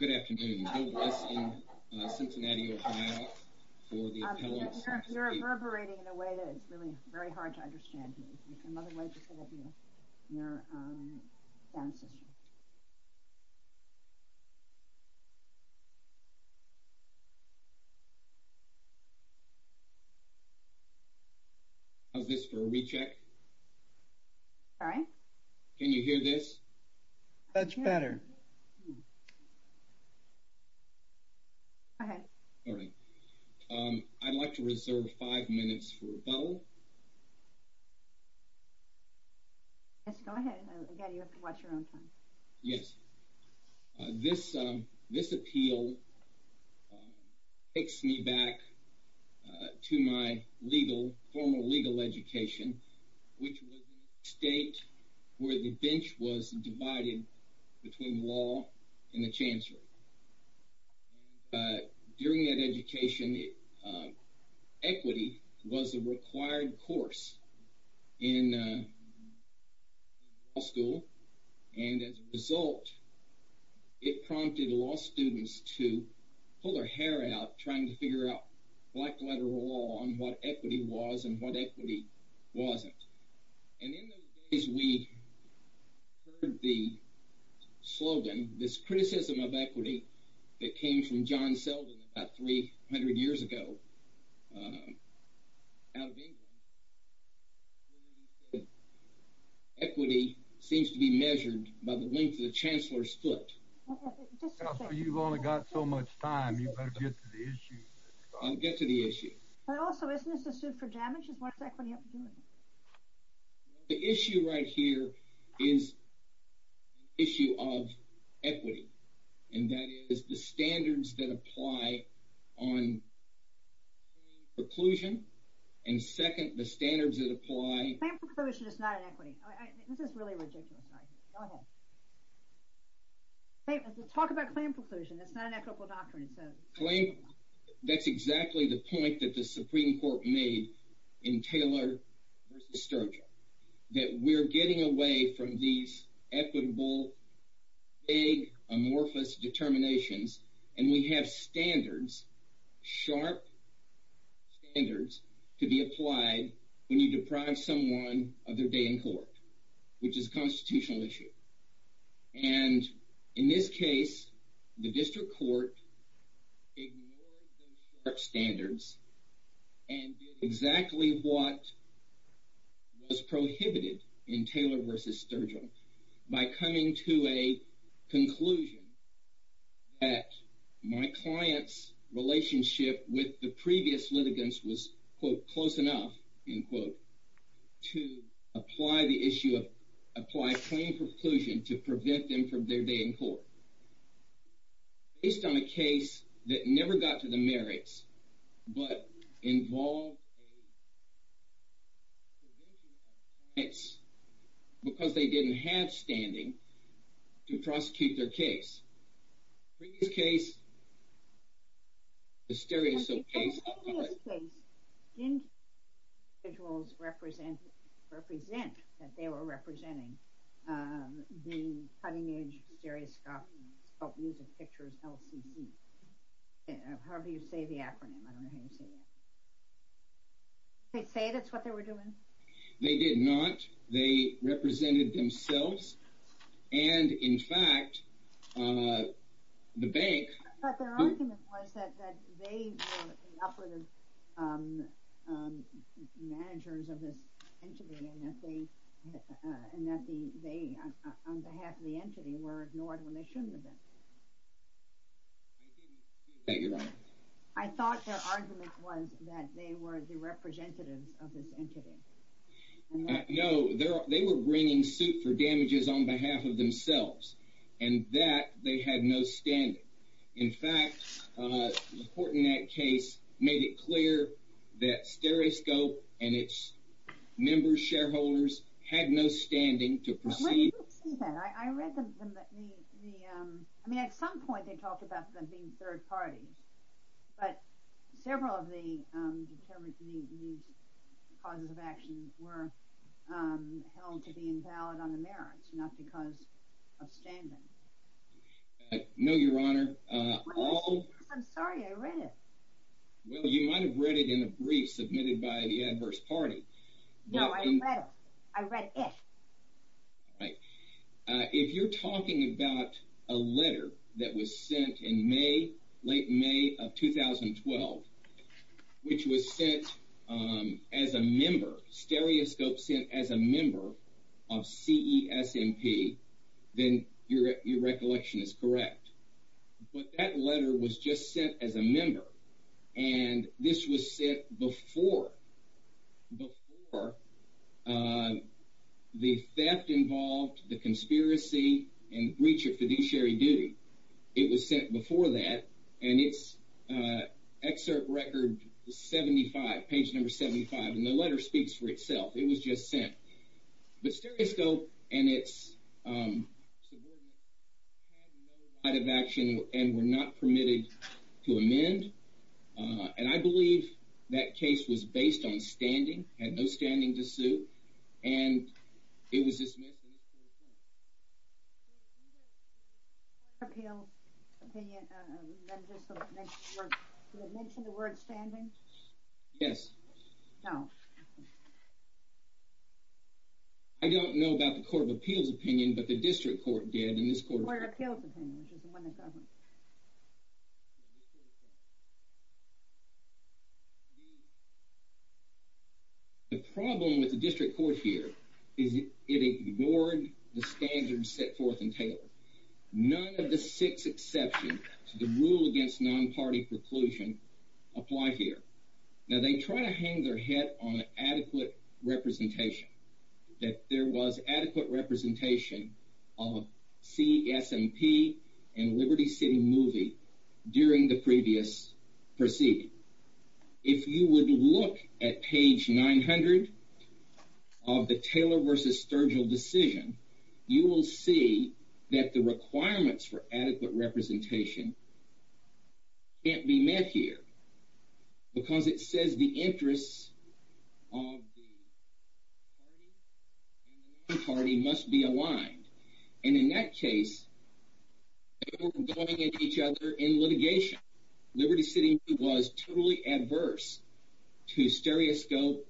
Good afternoon. Bill West in Cincinnati, Ohio for the Appellate Society. You're reverberating in a way that is really very hard to understand. We can move away just a little bit from your sound system. How's this for a recheck? Sorry? Can you hear this? Much better. Go ahead. All right. I'd like to reserve five minutes for rebuttal. Yes, go ahead. Again, you have to watch your own time. Yes. This appeal takes me back to my formal legal education, which was in a state where the bench was divided between law and the chancellery. During that education, equity was a required course in law school. And as a result, it prompted law students to pull their hair out trying to figure out black letter law on what equity was and what equity wasn't. And in those days, we heard the slogan, this criticism of equity, that came from John Selden about 300 years ago out of England. Equity seems to be measured by the length of the chancellor's foot. You've only got so much time. You better get to the issue. I'll get to the issue. But also, isn't this a suit for damages? What does equity have to do with it? The issue right here is the issue of equity. And that is the standards that apply on claim preclusion. And second, the standards that apply... Claim preclusion is not an equity. This is really ridiculous. Go ahead. Talk about claim preclusion. That's not an equitable doctrine. That's exactly the point that the Supreme Court made in Taylor v. Sturgill. That we're getting away from these equitable, vague, amorphous determinations, and we have standards, sharp standards, to be applied when you deprive someone of their day in court, which is a constitutional issue. And in this case, the district court ignored those sharp standards and did exactly what was prohibited in Taylor v. Sturgill by coming to a conclusion that my client's relationship with the previous litigants was, quote, close enough, end quote, to apply claim preclusion to prevent them from their day in court. Based on a case that never got to the merits, but involved a division of clients, because they didn't have standing to prosecute their case. Previous case, the stereoscope case... ...didn't represent that they were representing the cutting-edge stereoscope music pictures, LCC, however you say the acronym. I don't know how you say that. They say that's what they were doing? They did not. They represented themselves. And, in fact, the bank... ...managers of this entity, and that they, on behalf of the entity, were ignored when they shouldn't have been. I didn't hear that. I thought their argument was that they were the representatives of this entity. No, they were bringing suit for damages on behalf of themselves, and that they had no standing. In fact, the court in that case made it clear that stereoscope and its members, shareholders, had no standing to proceed... When did you see that? I read the... I mean, at some point they talked about them being third parties, but several of the determined causes of action No, Your Honor. I'm sorry, I read it. Well, you might have read it in a brief submitted by the adverse party. No, I read it. I read it. Right. If you're talking about a letter that was sent in May, late May of 2012, which was sent as a member, stereoscope sent as a member of CESMP, then your recollection is correct. But that letter was just sent as a member, and this was sent before the theft involved, the conspiracy, and breach of fiduciary duty. It was sent before that, and it's excerpt record 75, page number 75, and the letter speaks for itself. It was just sent. But stereoscope and its subordinates had no right of action and were not permitted to amend, and I believe that case was based on standing, had no standing to sue, and it was dismissed in this court's court. Did it mention the word standing? Yes. No. I don't know about the Court of Appeals opinion, but the district court did, and this court... Court of Appeals opinion, which is the one that governs. The problem with the district court here is it ignored the standards set forth in Taylor. None of the six exceptions to the rule against non-party preclusion apply here. Now, they try to hang their head on adequate representation, that there was adequate representation of CS&P and Liberty City Movie during the previous proceeding. If you would look at page 900 of the Taylor v. Sturgill decision, you will see that the requirements for adequate representation can't be met here, because it says the interests of the party and the non-party must be aligned, and in that case, they were going at each other in litigation. Liberty City Movie was totally adverse to stereoscope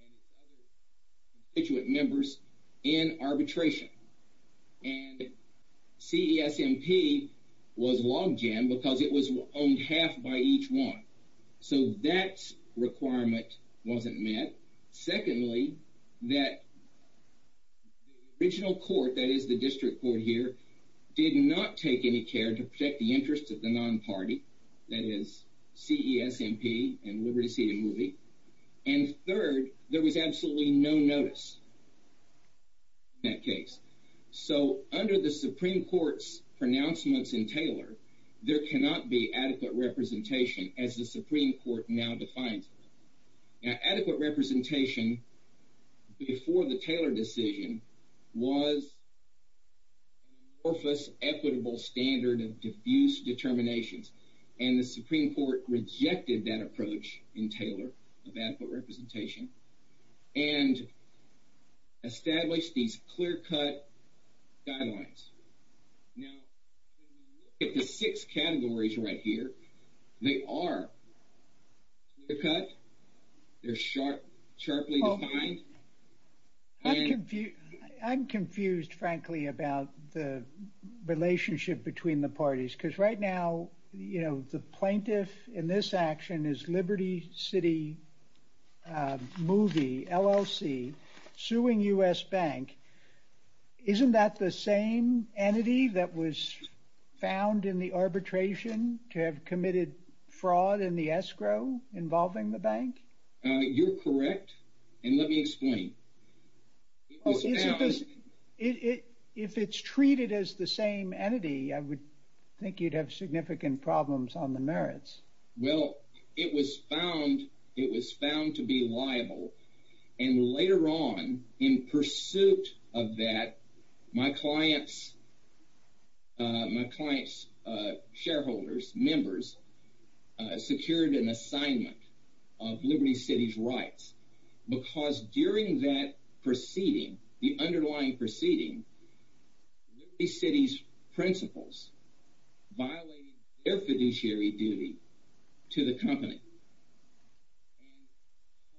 and its other constituent members in arbitration, and CS&P was logged in because it was owned half by each one, so that requirement wasn't met. Secondly, that the original court, that is the district court here, did not take any care to protect the interests of the non-party, that is, CS&P and Liberty City Movie, and third, there was absolutely no notice in that case. So, under the Supreme Court's pronouncements in Taylor, there cannot be adequate representation as the Supreme Court now defines it. Now, adequate representation before the Taylor decision was an amorphous equitable standard of diffuse determinations, and the Supreme Court rejected that approach in Taylor of adequate representation and established these clear-cut guidelines. Now, if you look at the six categories right here, they are clear-cut, they're sharply defined, and... I'm confused, frankly, about the relationship between the parties, because right now, you know, the plaintiff in this action is Liberty City Movie, LLC, suing U.S. Bank. Isn't that the same entity that was found in the arbitration to have committed fraud in the escrow involving the bank? You're correct, and let me explain. It was found... If it's treated as the same entity, I would think you'd have significant problems on the merits. Well, it was found to be liable, and later on, in pursuit of that, my client's shareholders, members, secured an assignment of Liberty City's rights, because during that proceeding, the underlying proceeding, Liberty City's principals violated their fiduciary duty to the company.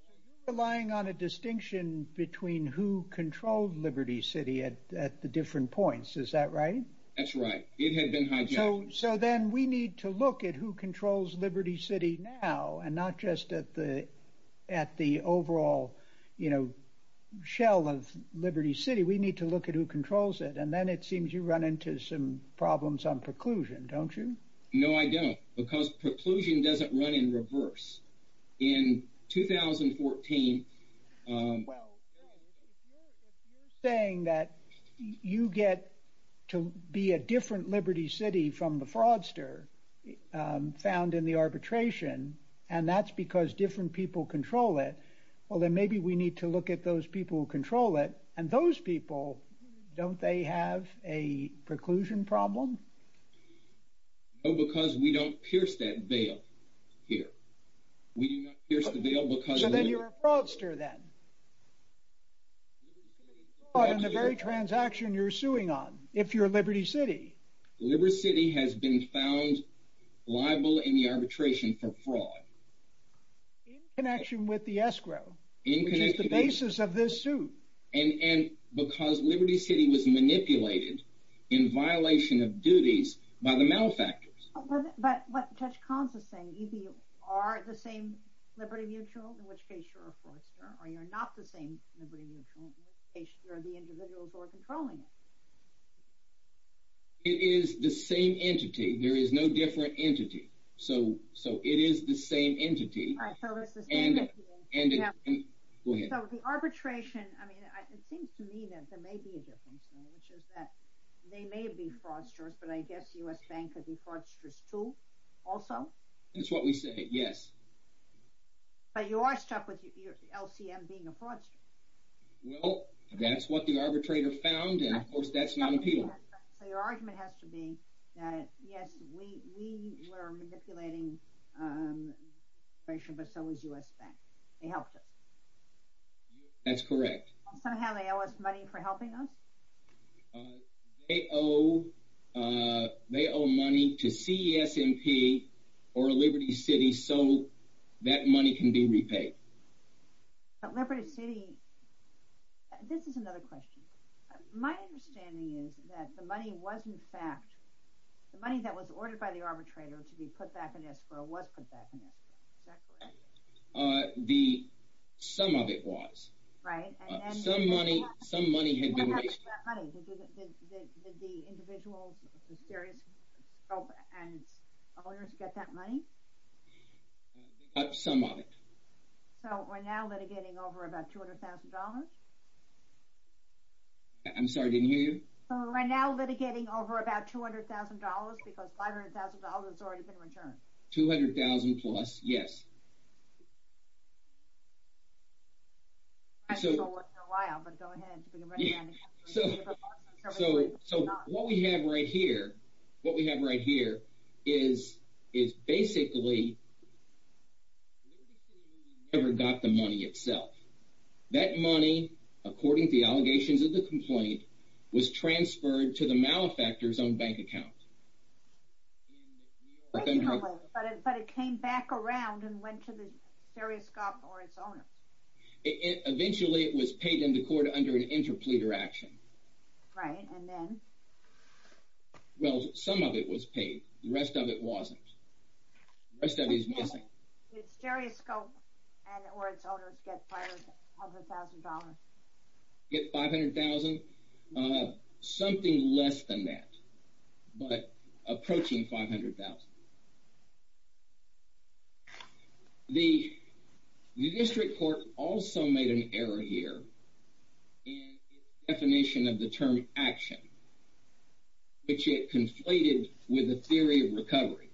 So you're relying on a distinction between who controlled Liberty City at the different points, is that right? That's right. It had been hijacked. So then we need to look at who controls Liberty City now, and not just at the overall, you know, shell of Liberty City. We need to look at who controls it, and then it seems you run into some problems on preclusion, don't you? No, I don't, because preclusion doesn't run in reverse. In 2014... Well, if you're saying that you get to be a different Liberty City from the fraudster found in the arbitration, and that's because different people control it, well, then maybe we need to look at those people who control it, and those people, don't they have a preclusion problem? No, because we don't pierce that veil here. We do not pierce the veil because... So then you're a fraudster, then. In the very transaction you're suing on, if you're Liberty City. Liberty City has been found liable in the arbitration for fraud. In connection with the escrow, which is the basis of this suit. And because Liberty City was manipulated in violation of duties by the malefactors. But what Judge Kahn is saying, either you are the same Liberty Mutual, in which case you're a fraudster, or you're not the same Liberty Mutual, in which case you're the individuals who are controlling it. It is the same entity. There is no different entity. So it is the same entity. All right, so it's the same entity. Go ahead. So the arbitration, I mean, it seems to me that there may be a difference there, which is that they may be fraudsters, but I guess the U.S. Bank could be fraudsters too, also? That's what we say, yes. But you are stuck with LCM being a fraudster. Well, that's what the arbitrator found, and of course that's non-appealable. So your argument has to be that, yes, we were manipulating the arbitration, but so was U.S. Bank. They helped us. That's correct. Somehow they owe us money for helping us? They owe money to CESMP or Liberty City so that money can be repaid. But Liberty City, this is another question. My understanding is that the money was, in fact, the money that was ordered by the arbitrator to be put back in escrow was put back in escrow. Is that correct? Some of it was. Right. Some money had been raised. What happened to that money? Did the individuals, the serious scope and its owners get that money? They got some of it. So we're now litigating over about $200,000? I'm sorry, I didn't hear you. So we're now litigating over about $200,000 because $500,000 has already been returned? $200,000 plus, yes. I know it's a while, but go ahead. So what we have right here is basically Liberty City never got the money itself. That money, according to the allegations of the complaint, was transferred to the malefactor's own bank account. But it came back around and went to the serious scope or its owners. Eventually it was paid in the court under an interpleader action. Right, and then? Well, some of it was paid. The rest of it wasn't. The rest of it is missing. Did the serious scope or its owners get $500,000? $500,000? Something less than that. But approaching $500,000. The district court also made an error here in its definition of the term action, which it conflated with the theory of recovery.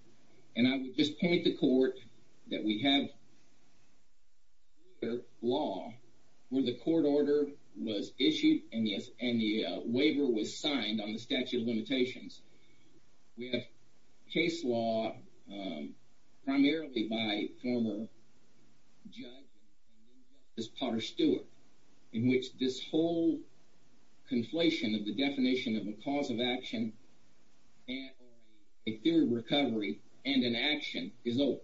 And I would just point the court that we have here law where the court order was issued and the waiver was signed on the statute of limitations. We have case law primarily by a former judge, this Potter Stewart, in which this whole conflation of the definition of a cause of action and a theory of recovery and an action is over.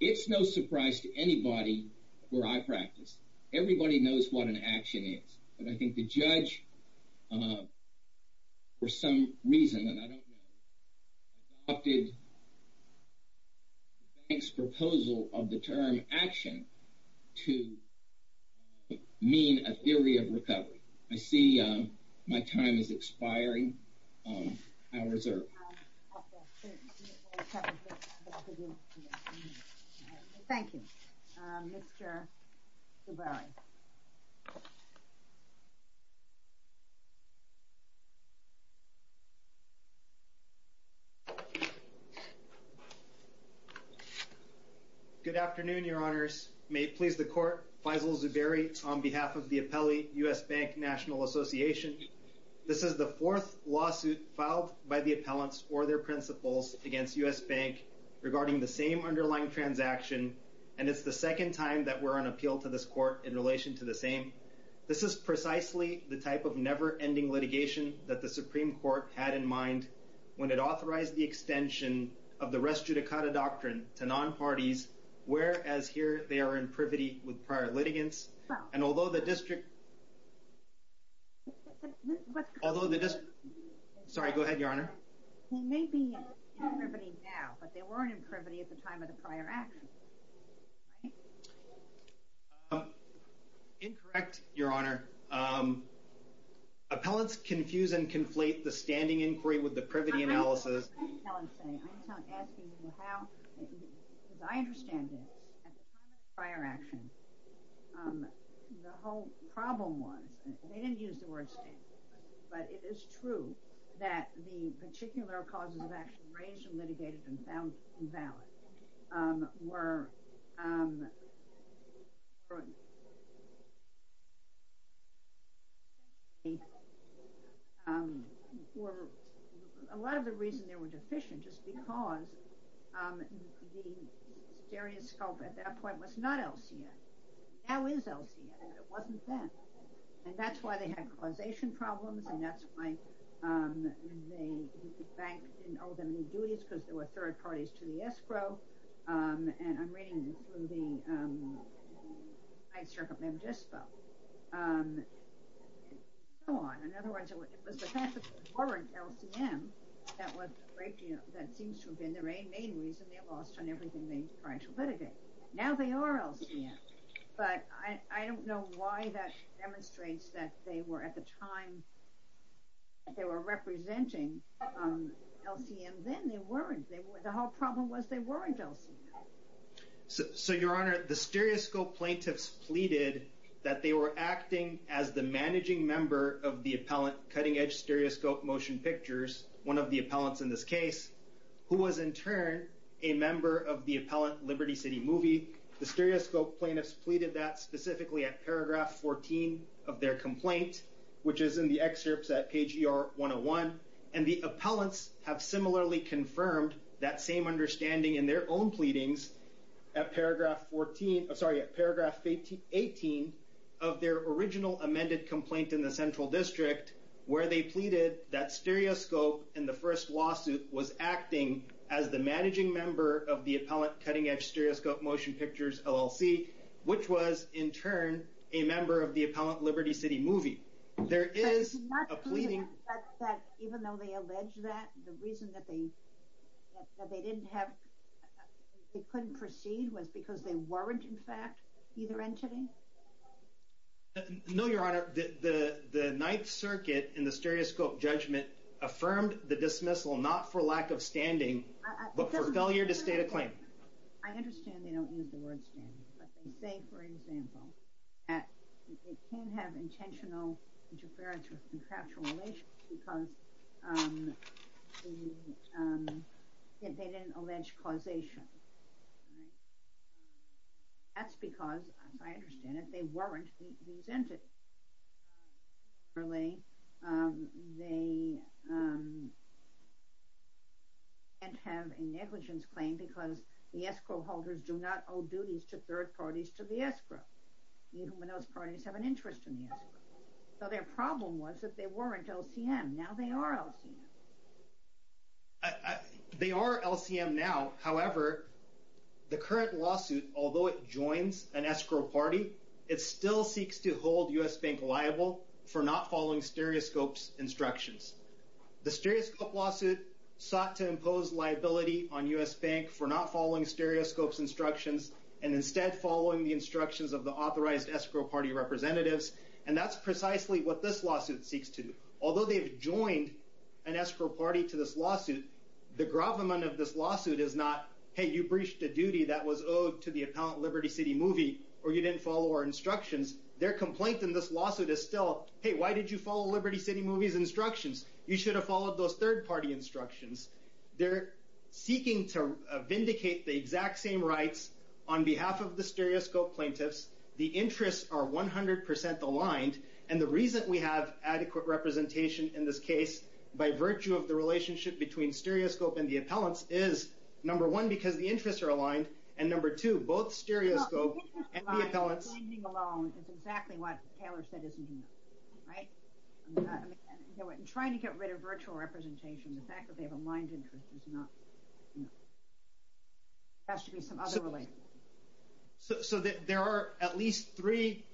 It's no surprise to anybody where I practice. Everybody knows what an action is. But I think the judge, for some reason that I don't know, adopted the bank's proposal of the term action to mean a theory of recovery. I see my time is expiring. Hours are up. Thank you. Mr. Zuberi. Good afternoon, Your Honors. May it please the court, Faisal Zuberi, on behalf of the Appellee U.S. Bank National Association. This is the fourth lawsuit filed by the appellants or their principals against U.S. Bank regarding the same underlying transaction. And it's the second time that we're on appeal to this court in relation to the same. This is precisely the type of never-ending litigation that the Supreme Court had in mind when it authorized the extension of the res judicata doctrine to non-parties, whereas here they are in privity with prior litigants. And although the district... Sorry, go ahead, Your Honor. He may be in privity now, but they weren't in privity at the time of the prior action. Right? Incorrect, Your Honor. Appellants confuse and conflate the standing inquiry with the privity analysis. I'm not asking you how. Because I understand this. At the time of the prior action, the whole problem was, they didn't use the word standing, but it is true that the particular causes of action raised and litigated and found invalid were a lot of the reason they were deficient just because the stereoscope at that point was not LCA. Now is LCA. It wasn't then. And that's why they had causation problems and that's why the bank didn't owe them any duties because they were third parties to the escrow. And I'm reading through the High Circuit Memo Dispo. Go on. In other words, it was the fact that they weren't LCM that seems to have been the main reason they lost on everything they tried to litigate. Now they are LCM. But I don't know why that demonstrates that they were at the time they were representing LCM. Then they weren't. The whole problem was they weren't LCM. So your honor, the stereoscope plaintiffs pleaded that they were acting as the managing member of the appellant cutting edge stereoscope motion pictures, one of the appellants in this case, who was in turn a member of the appellant Liberty City Movie. The stereoscope plaintiffs pleaded that specifically at paragraph 14 of their complaint, which is in the excerpts at page ER 101. And the appellants have similarly confirmed that same understanding in their own pleadings at paragraph 18 of their original amended complaint in the Central District where they pleaded that stereoscope in the first lawsuit was acting as the managing member of the appellant cutting edge stereoscope motion pictures LLC, which was in turn a member of the appellant Liberty City Movie. There is a pleading. But even though they allege that, the reason that they couldn't proceed was because they weren't, in fact, either entity? No, your honor. The Ninth Circuit in the stereoscope judgment affirmed the dismissal not for lack of standing, but for failure to state a claim. I understand they don't use the word standing. But they say, for example, that it can have intentional interference with contractual relations because they didn't allege causation. That's because, as I understand it, they weren't these entities. Similarly, they can't have a negligence claim because the escrow holders do not owe duties to third parties to the escrow. Even when those parties have an interest in the escrow. So their problem was that they weren't LCM. Now they are LCM. They are LCM now. However, the current lawsuit, although it for not following stereoscope's instructions. The stereoscope lawsuit sought to impose liability on US Bank for not following stereoscope's instructions and instead following the instructions of the authorized escrow party representatives. And that's precisely what this lawsuit seeks to do. Although they've joined an escrow party to this lawsuit, the gravamen of this lawsuit is not, hey, you breached a duty that was owed to the appellant Liberty City Movie or you didn't follow our instructions. Their complaint in this lawsuit is still, hey, why did you follow Liberty City Movie's instructions? You should have followed those third party instructions. They're seeking to vindicate the exact same rights on behalf of the stereoscope plaintiffs. The interests are 100% aligned. And the reason we have adequate representation in this case by virtue of the relationship between stereoscope and the appellants is, number one, because the interests are aligned. And number two, both stereoscope and the appellants are binding alone. It's exactly what Taylor said isn't enough, right? In trying to get rid of virtual representation, the fact that they have aligned interests is not enough. There has to be some other relationship. So there are at least three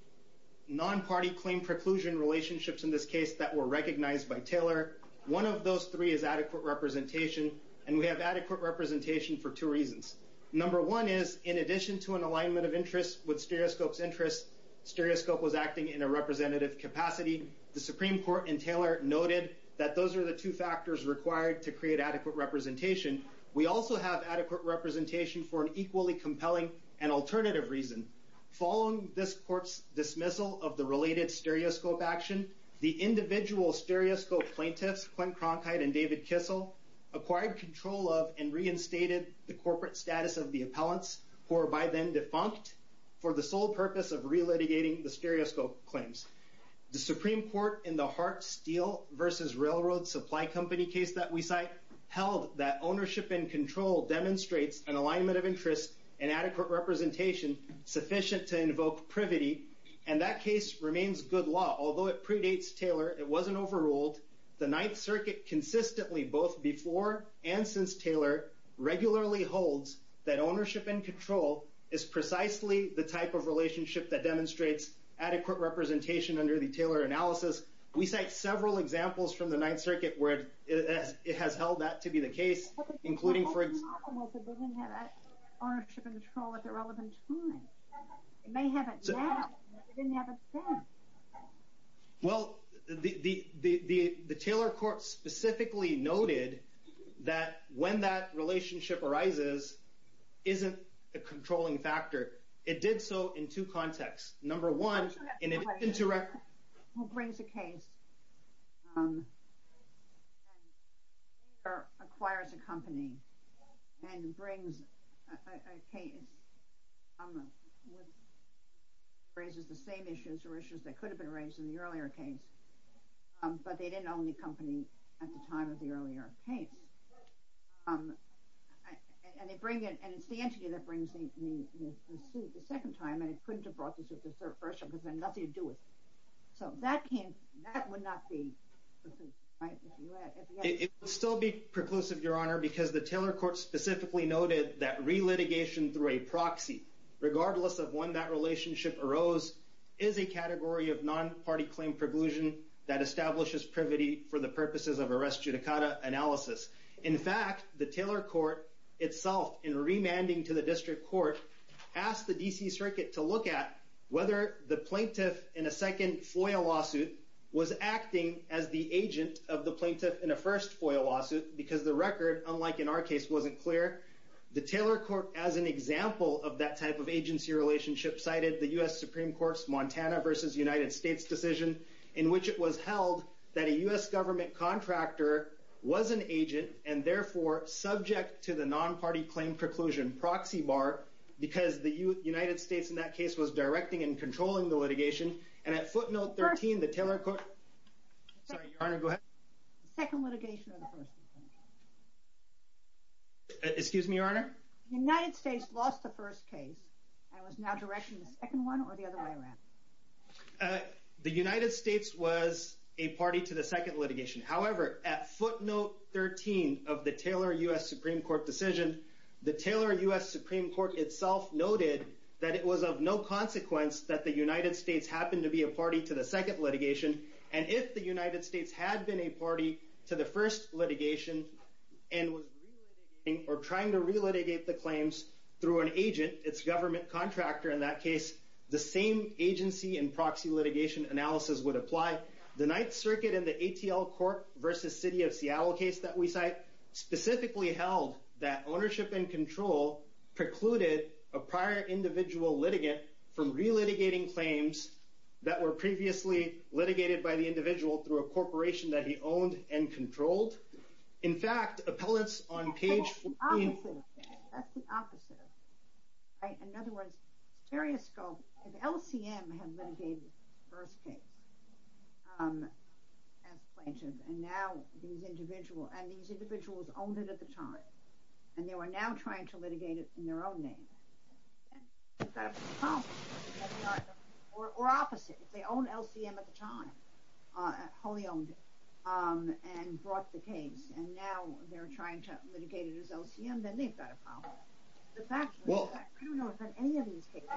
non-party claim preclusion relationships in this case that were recognized by Taylor. One of those three is adequate representation. And we have adequate representation for two reasons. Number one is, in addition to an alignment of interests with stereoscope's interests, stereoscope was acting in a representative capacity. The Supreme Court in Taylor noted that those are the two factors required to create adequate representation. We also have adequate representation for an equally compelling and alternative reason. Following this court's dismissal of the related stereoscope action, the individual stereoscope plaintiffs, Clint Cronkite and David Kissel, acquired control of and reinstated the corporate status of the appellants, who were by then defunct, for the sole purpose of relitigating the stereoscope claims. The Supreme Court in the Hart Steel versus Railroad Supply Company case that we cite held that ownership and control demonstrates an alignment of interests and adequate representation sufficient to invoke privity. And that case remains good law. Although it predates Taylor, it wasn't overruled. The Ninth Circuit consistently, both before and since Taylor, regularly holds that ownership and control is precisely the type of relationship that demonstrates adequate representation under the Taylor analysis. We cite several examples from the Ninth Circuit where it has held that to be the case, including for example. But they told us that they didn't have that ownership and control at the relevant time. They may have it now, but they didn't have it then. Well, the Taylor court specifically noted that when that relationship arises, isn't a controlling factor. It did so in two contexts. Number one, in an indirect. Who brings a case, or acquires a company, and brings a case, raises the same issues or issues that could have been raised in the earlier case. But they didn't own the company at the time of the earlier case. And it's the entity that brings the suit the second time, and it couldn't have brought the suit the first time, because it had nothing to do with it. So that would not be the case. It would still be preclusive, Your Honor, because the Taylor court specifically noted that re-litigation through a proxy, regardless of when that relationship arose, is a category of non-party claim preclusion that establishes privity for the purposes of arrest judicata analysis. In fact, the Taylor court itself, in remanding to the district court, asked the DC circuit to look at whether the plaintiff in a second FOIA lawsuit was acting as the agent of the plaintiff in a first FOIA lawsuit, because the record, unlike in our case, wasn't clear. The Taylor court, as an example of that type of agency relationship, cited the US Supreme Court's United States decision, in which it was held that a US government contractor was an agent, and therefore, subject to the non-party claim preclusion proxy bar, because the United States, in that case, was directing and controlling the litigation. And at footnote 13, the Taylor court. Sorry, Your Honor, go ahead. The second litigation or the first one? Excuse me, Your Honor? The United States lost the first case, and was now directing the second one, or the other way around? The United States was a party to the second litigation. However, at footnote 13 of the Taylor US Supreme Court decision, the Taylor US Supreme Court itself noted that it was of no consequence that the United States happened to be a party to the second litigation. And if the United States had been a party to the first litigation, and was trying to relitigate the claims through an agent, its government contractor, in that case, the same agency and proxy litigation analysis would apply. The Ninth Circuit in the ATL court versus city of Seattle case that we cite, specifically held that ownership and control precluded a prior individual litigant from relitigating claims that were previously litigated by the individual through a corporation that he owned and controlled. In fact, appellants on page 14. That's the opposite. That's the opposite. In other words, stereoscope, if LCM had litigated the first case as plaintiff, and these individuals owned it at the time, and they were now trying to litigate it in their own name, or opposite, if they owned LCM at the time, wholly owned it, and brought the case, and now they're trying to litigate it as LCM, then they've got a problem. The fact is that I don't know of any of these cases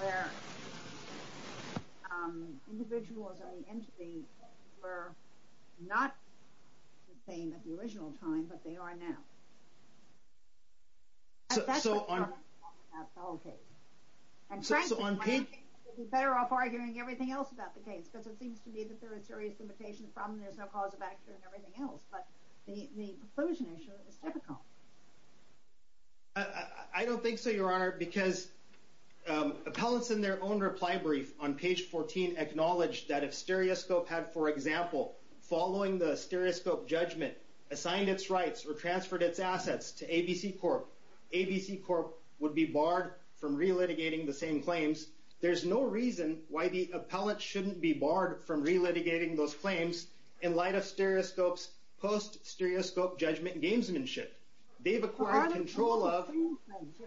where individuals on the entity were not the same at the original time, but they are now. That's just from an appellant case. And frankly, one has to be better off arguing everything else about the case, because it seems to me that there are serious limitations. The problem is there's no cause of action and everything else. But the inclusion issue is difficult. I don't think so, Your Honor, because appellants in their own reply brief on page 14 acknowledged that if stereoscope had, for example, following the stereoscope judgment, assigned its rights or transferred its assets to ABC Corp, ABC Corp would be barred from re-litigating the same claims. There's no reason why the appellant shouldn't be barred from re-litigating those claims in light of stereoscope's post-stereoscope judgment gamesmanship. They've acquired control of-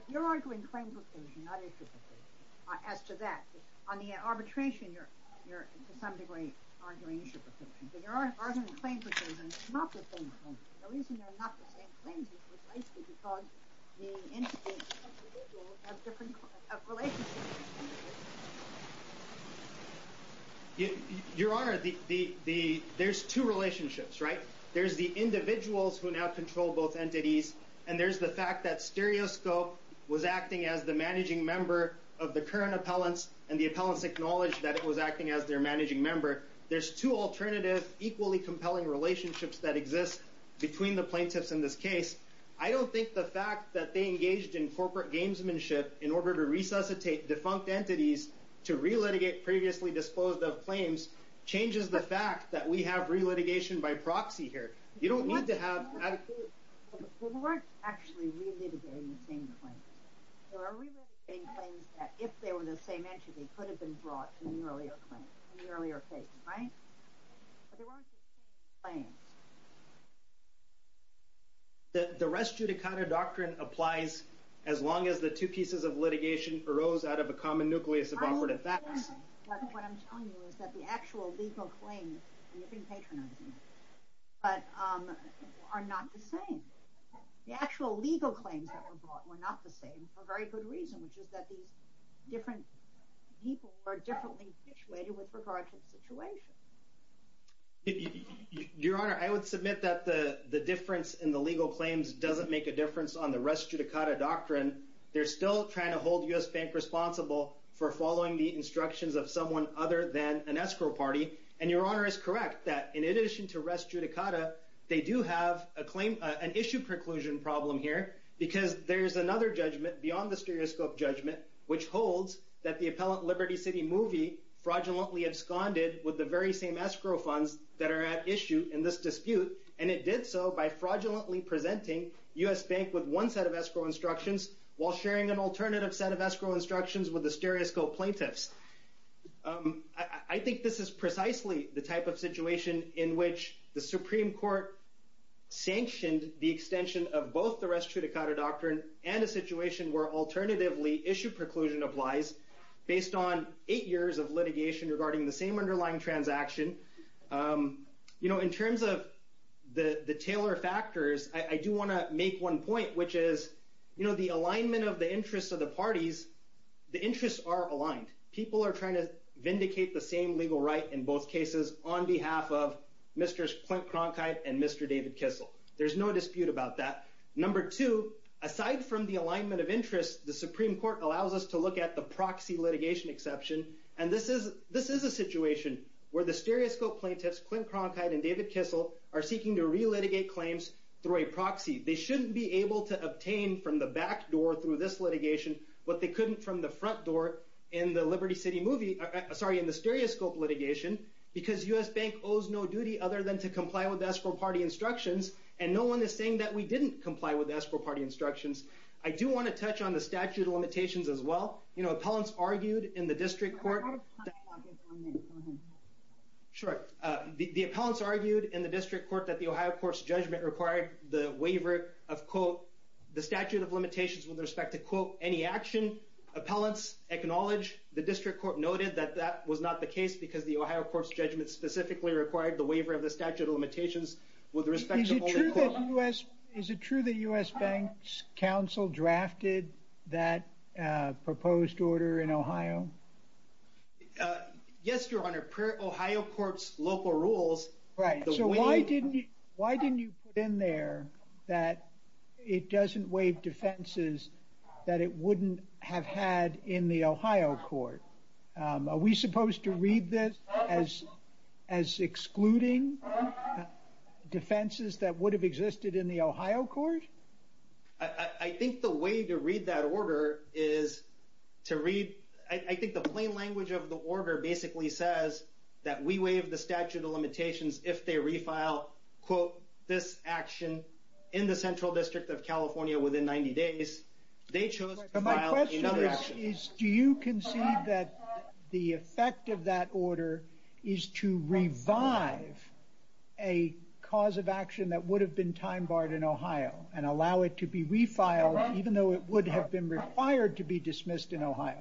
You're arguing claims with them, not issue with them. As to that, on the arbitration, you're to some degree arguing issue with them. You're arguing claims with them, not with them. The reason they're not the same claims is precisely because the individual has different relationships. Your Honor, there's two relationships, right? There's the individuals who now control both entities, and there's the fact that stereoscope was acting as the managing member of the current appellants, and the appellants acknowledged that it was acting as their managing member. There's two alternative, equally compelling relationships that exist between the plaintiffs in this case. I don't think the fact that they engaged in corporate gamesmanship in order to resuscitate defunct entities to re-litigate previously disclosed of claims changes the fact that we have re-litigation by proxy here. You don't need to have adequate- They weren't actually re-litigating the same claims. They were re-litigating claims that, if they were the same entity, could have been brought in the earlier case, right? But there weren't the same claims. The res judicata doctrine applies as long as the two pieces of litigation arose out of a common nucleus of operative facts. What I'm telling you is that the actual legal claims, and you've been patronizing this, are not the same. The actual legal claims that were brought were not the same for a very good reason, which is that these different people were differently situated with regard to the situation. Your Honor, I would submit that the difference in the legal claims doesn't make a difference on the res judicata doctrine. They're still trying to hold U.S. Bank responsible for following the instructions of someone other than an escrow party. And Your Honor is correct that, in addition to res judicata, they do have an issue preclusion problem here because there's another judgment beyond the stereoscope judgment, which holds that the appellant Liberty City Movie fraudulently absconded with the very same escrow funds that are at issue in this dispute, and it did so by fraudulently presenting U.S. Bank with one set of escrow instructions while sharing an alternative set of escrow instructions with the stereoscope plaintiffs. I think this is precisely the type of situation in which the Supreme Court sanctioned the extension of both the res judicata doctrine and a situation where alternatively issue preclusion applies, based on eight years of litigation regarding the same underlying transaction. In terms of the Taylor factors, I do want to make one point, which is the alignment of the interests of the parties, the interests are aligned. People are trying to vindicate the same legal right in both cases on behalf of Mr. Clint Cronkite and Mr. David Kissel. There's no dispute about that. Number two, aside from the alignment of interests, the Supreme Court allows us to look at the proxy litigation exception, and this is a situation where the stereoscope plaintiffs, Clint Cronkite and David Kissel, are seeking to relitigate claims through a proxy. They shouldn't be able to obtain from the back door through this litigation, but they couldn't from the front door in the stereoscope litigation, because U.S. Bank owes no duty other than to comply with escrow party instructions, and no one is saying that we didn't comply with escrow party instructions. I do want to touch on the statute of limitations as well. You know, appellants argued in the district court... Go ahead. Sure. The appellants argued in the district court that the Ohio Courts judgment required the waiver of, quote, the statute of limitations with respect to, quote, any action. Appellants acknowledge the district court noted that that was not the case, because the Ohio Courts judgment specifically required the waiver of the statute of limitations with respect to, quote... Is it true that U.S. Bank's counsel drafted that proposed order in Ohio? Yes, Your Honor. Per Ohio Courts local rules... Right. So why didn't you put in there that it doesn't waive defenses that it wouldn't have had in the Ohio Court? Are we supposed to read this as excluding? Defenses that would have existed in the Ohio Court? I think the way to read that order is to read... I think the plain language of the order basically says that we waive the statute of limitations if they refile, quote, this action in the Central District of California within 90 days. They chose to file another action. My question is, do you concede that the effect of that order is to revive a cause of action that would have been time-barred in Ohio and allow it to be refiled, even though it would have been required to be dismissed in Ohio?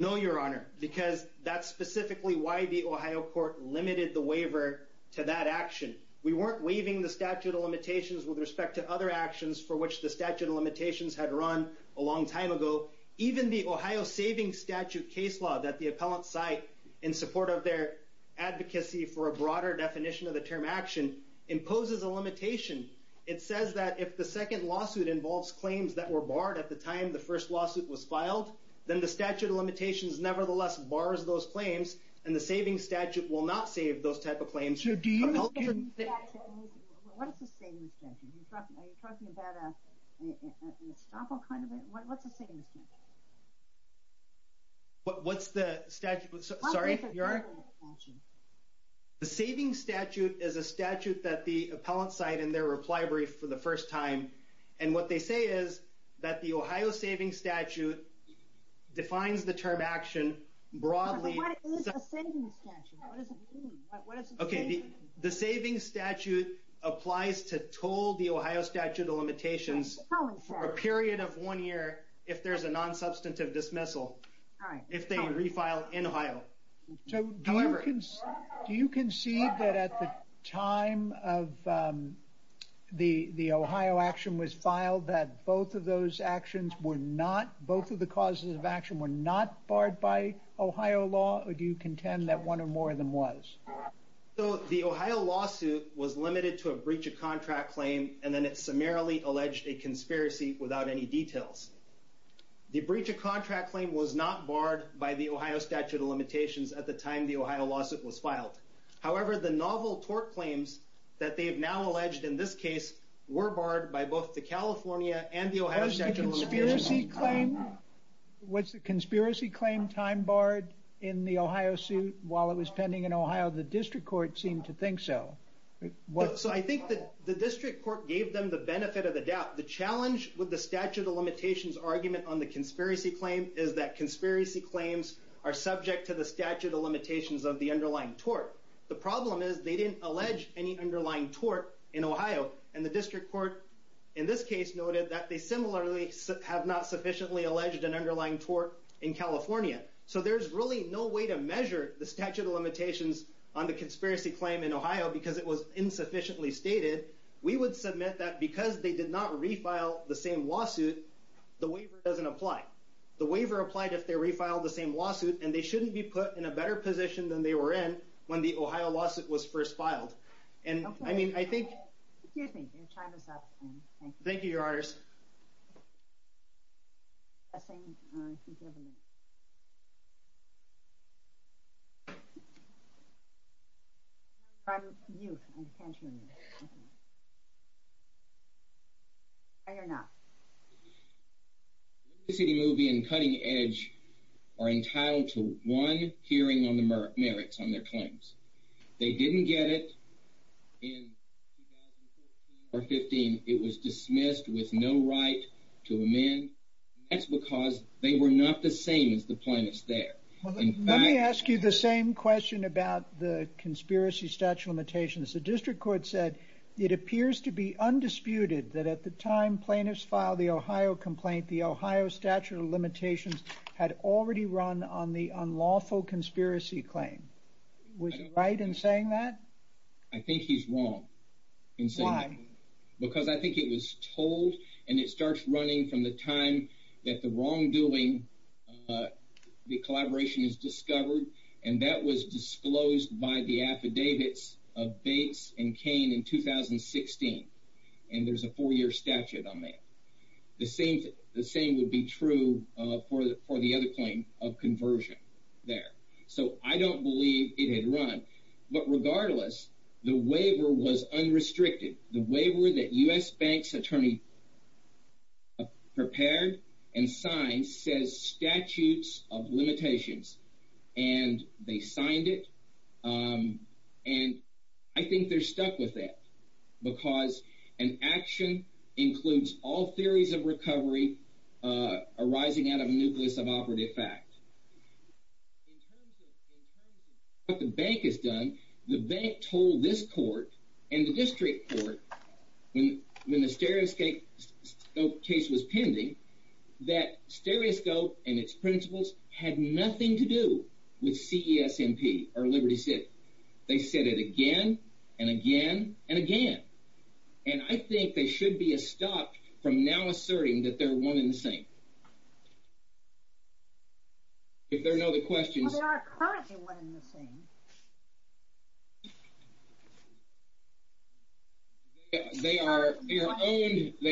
No, Your Honor, because that's specifically why the Ohio Court limited the waiver to that action. We weren't waiving the statute of limitations with respect to other actions for which the statute of limitations had run a long time ago. Even the Ohio Savings Statute case law that the appellant cite in support of their advocacy for a broader definition of the term action imposes a limitation. It says that if the second lawsuit involves claims that were barred at the time the first lawsuit was filed, then the statute of limitations nevertheless bars those claims, and the savings statute will not save those type of claims. So do you... What is a savings statute? Are you talking about an estoppel kind of thing? What's a savings statute? What's the statute? Sorry, Your Honor? The savings statute is a statute that the appellant cite in their reply brief for the first time, and what they say is that the Ohio Savings Statute defines the term action broadly... What is a savings statute? What does it mean? Okay, the savings statute applies to toll the Ohio statute of limitations for a period of one year if there's a non-substantive dismissal, if they refile in Ohio. So do you concede that at the time of the Ohio action was filed that both of those actions were not... Both of the causes of action were not barred by Ohio law, or do you contend that one or more of them was? So the Ohio lawsuit was limited to a breach of contract claim, and then it summarily alleged a conspiracy without any details. The breach of contract claim was not barred by the Ohio statute of limitations at the time the Ohio lawsuit was filed. However, the novel tort claims that they have now alleged in this case were barred by both the California and the Ohio statute of limitations. Was the conspiracy claim time barred in the Ohio suit while it was pending in Ohio? The district court seemed to think so. So I think that the district court gave them the benefit of the doubt. The challenge with the statute of limitations argument on the conspiracy claim is that conspiracy claims are subject to the statute of limitations of the underlying tort. The problem is they didn't allege any underlying tort in Ohio, and the district court in this case noted that they similarly have not sufficiently alleged an underlying tort in California. So there's really no way to measure the statute of limitations on the conspiracy claim in Ohio because it was insufficiently stated. We would submit that because they did not refile the same lawsuit, the waiver doesn't apply. The waiver applied if they refiled the same lawsuit, and they shouldn't be put in a better position than they were in when the Ohio lawsuit was first filed. And I mean, I think... Excuse me, your time is up. Thank you, Your Honors. I think you have a minute. I'm you. I can't hear you. I hear now. ...City Movie and Cutting Edge are entitled to one hearing on the merits on their claims. They didn't get it in 2014 or 15. It was dismissed with no right to amend. That's because they were not the same as the plaintiffs there. Let me ask you the same question about the conspiracy statute of limitations. The district court said it appears to be undisputed that at the time plaintiffs filed the Ohio complaint, the Ohio statute of limitations had already run on the unlawful conspiracy claim. Was he right in saying that? I think he's wrong in saying that. Why? Because I think it was told, and it starts running from the time that the wrongdoing, the collaboration is discovered, and that was disclosed by the affidavits of Bates and Cain in 2016. And there's a four-year statute on that. The same would be true for the other claim of conversion there. So I don't believe it had run. But regardless, the waiver was unrestricted. The waiver that U.S. Bank's attorney prepared and signed says statutes of limitations, and they signed it. And I think they're stuck with that because an action includes all theories of recovery arising out of a nucleus of operative fact. In terms of what the bank has done, the bank told this court and the district court when the stereoscope case was pending that stereoscope and its principles had nothing to do with CESMP or Liberty City. They said it again and again and again. And I think they should be stopped from now asserting that they're one and the same. If there are no other questions... Well, they are currently one and the same. They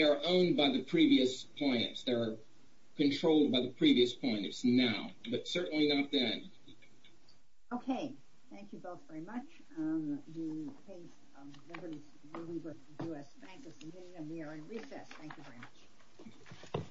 are owned by the previous plaintiffs. They are controlled by the previous plaintiffs now, but certainly not then. Okay. Thank you both very much. The case of Liberty City was with the U.S. Bank of Virginia, and we are in recess. Thank you very much.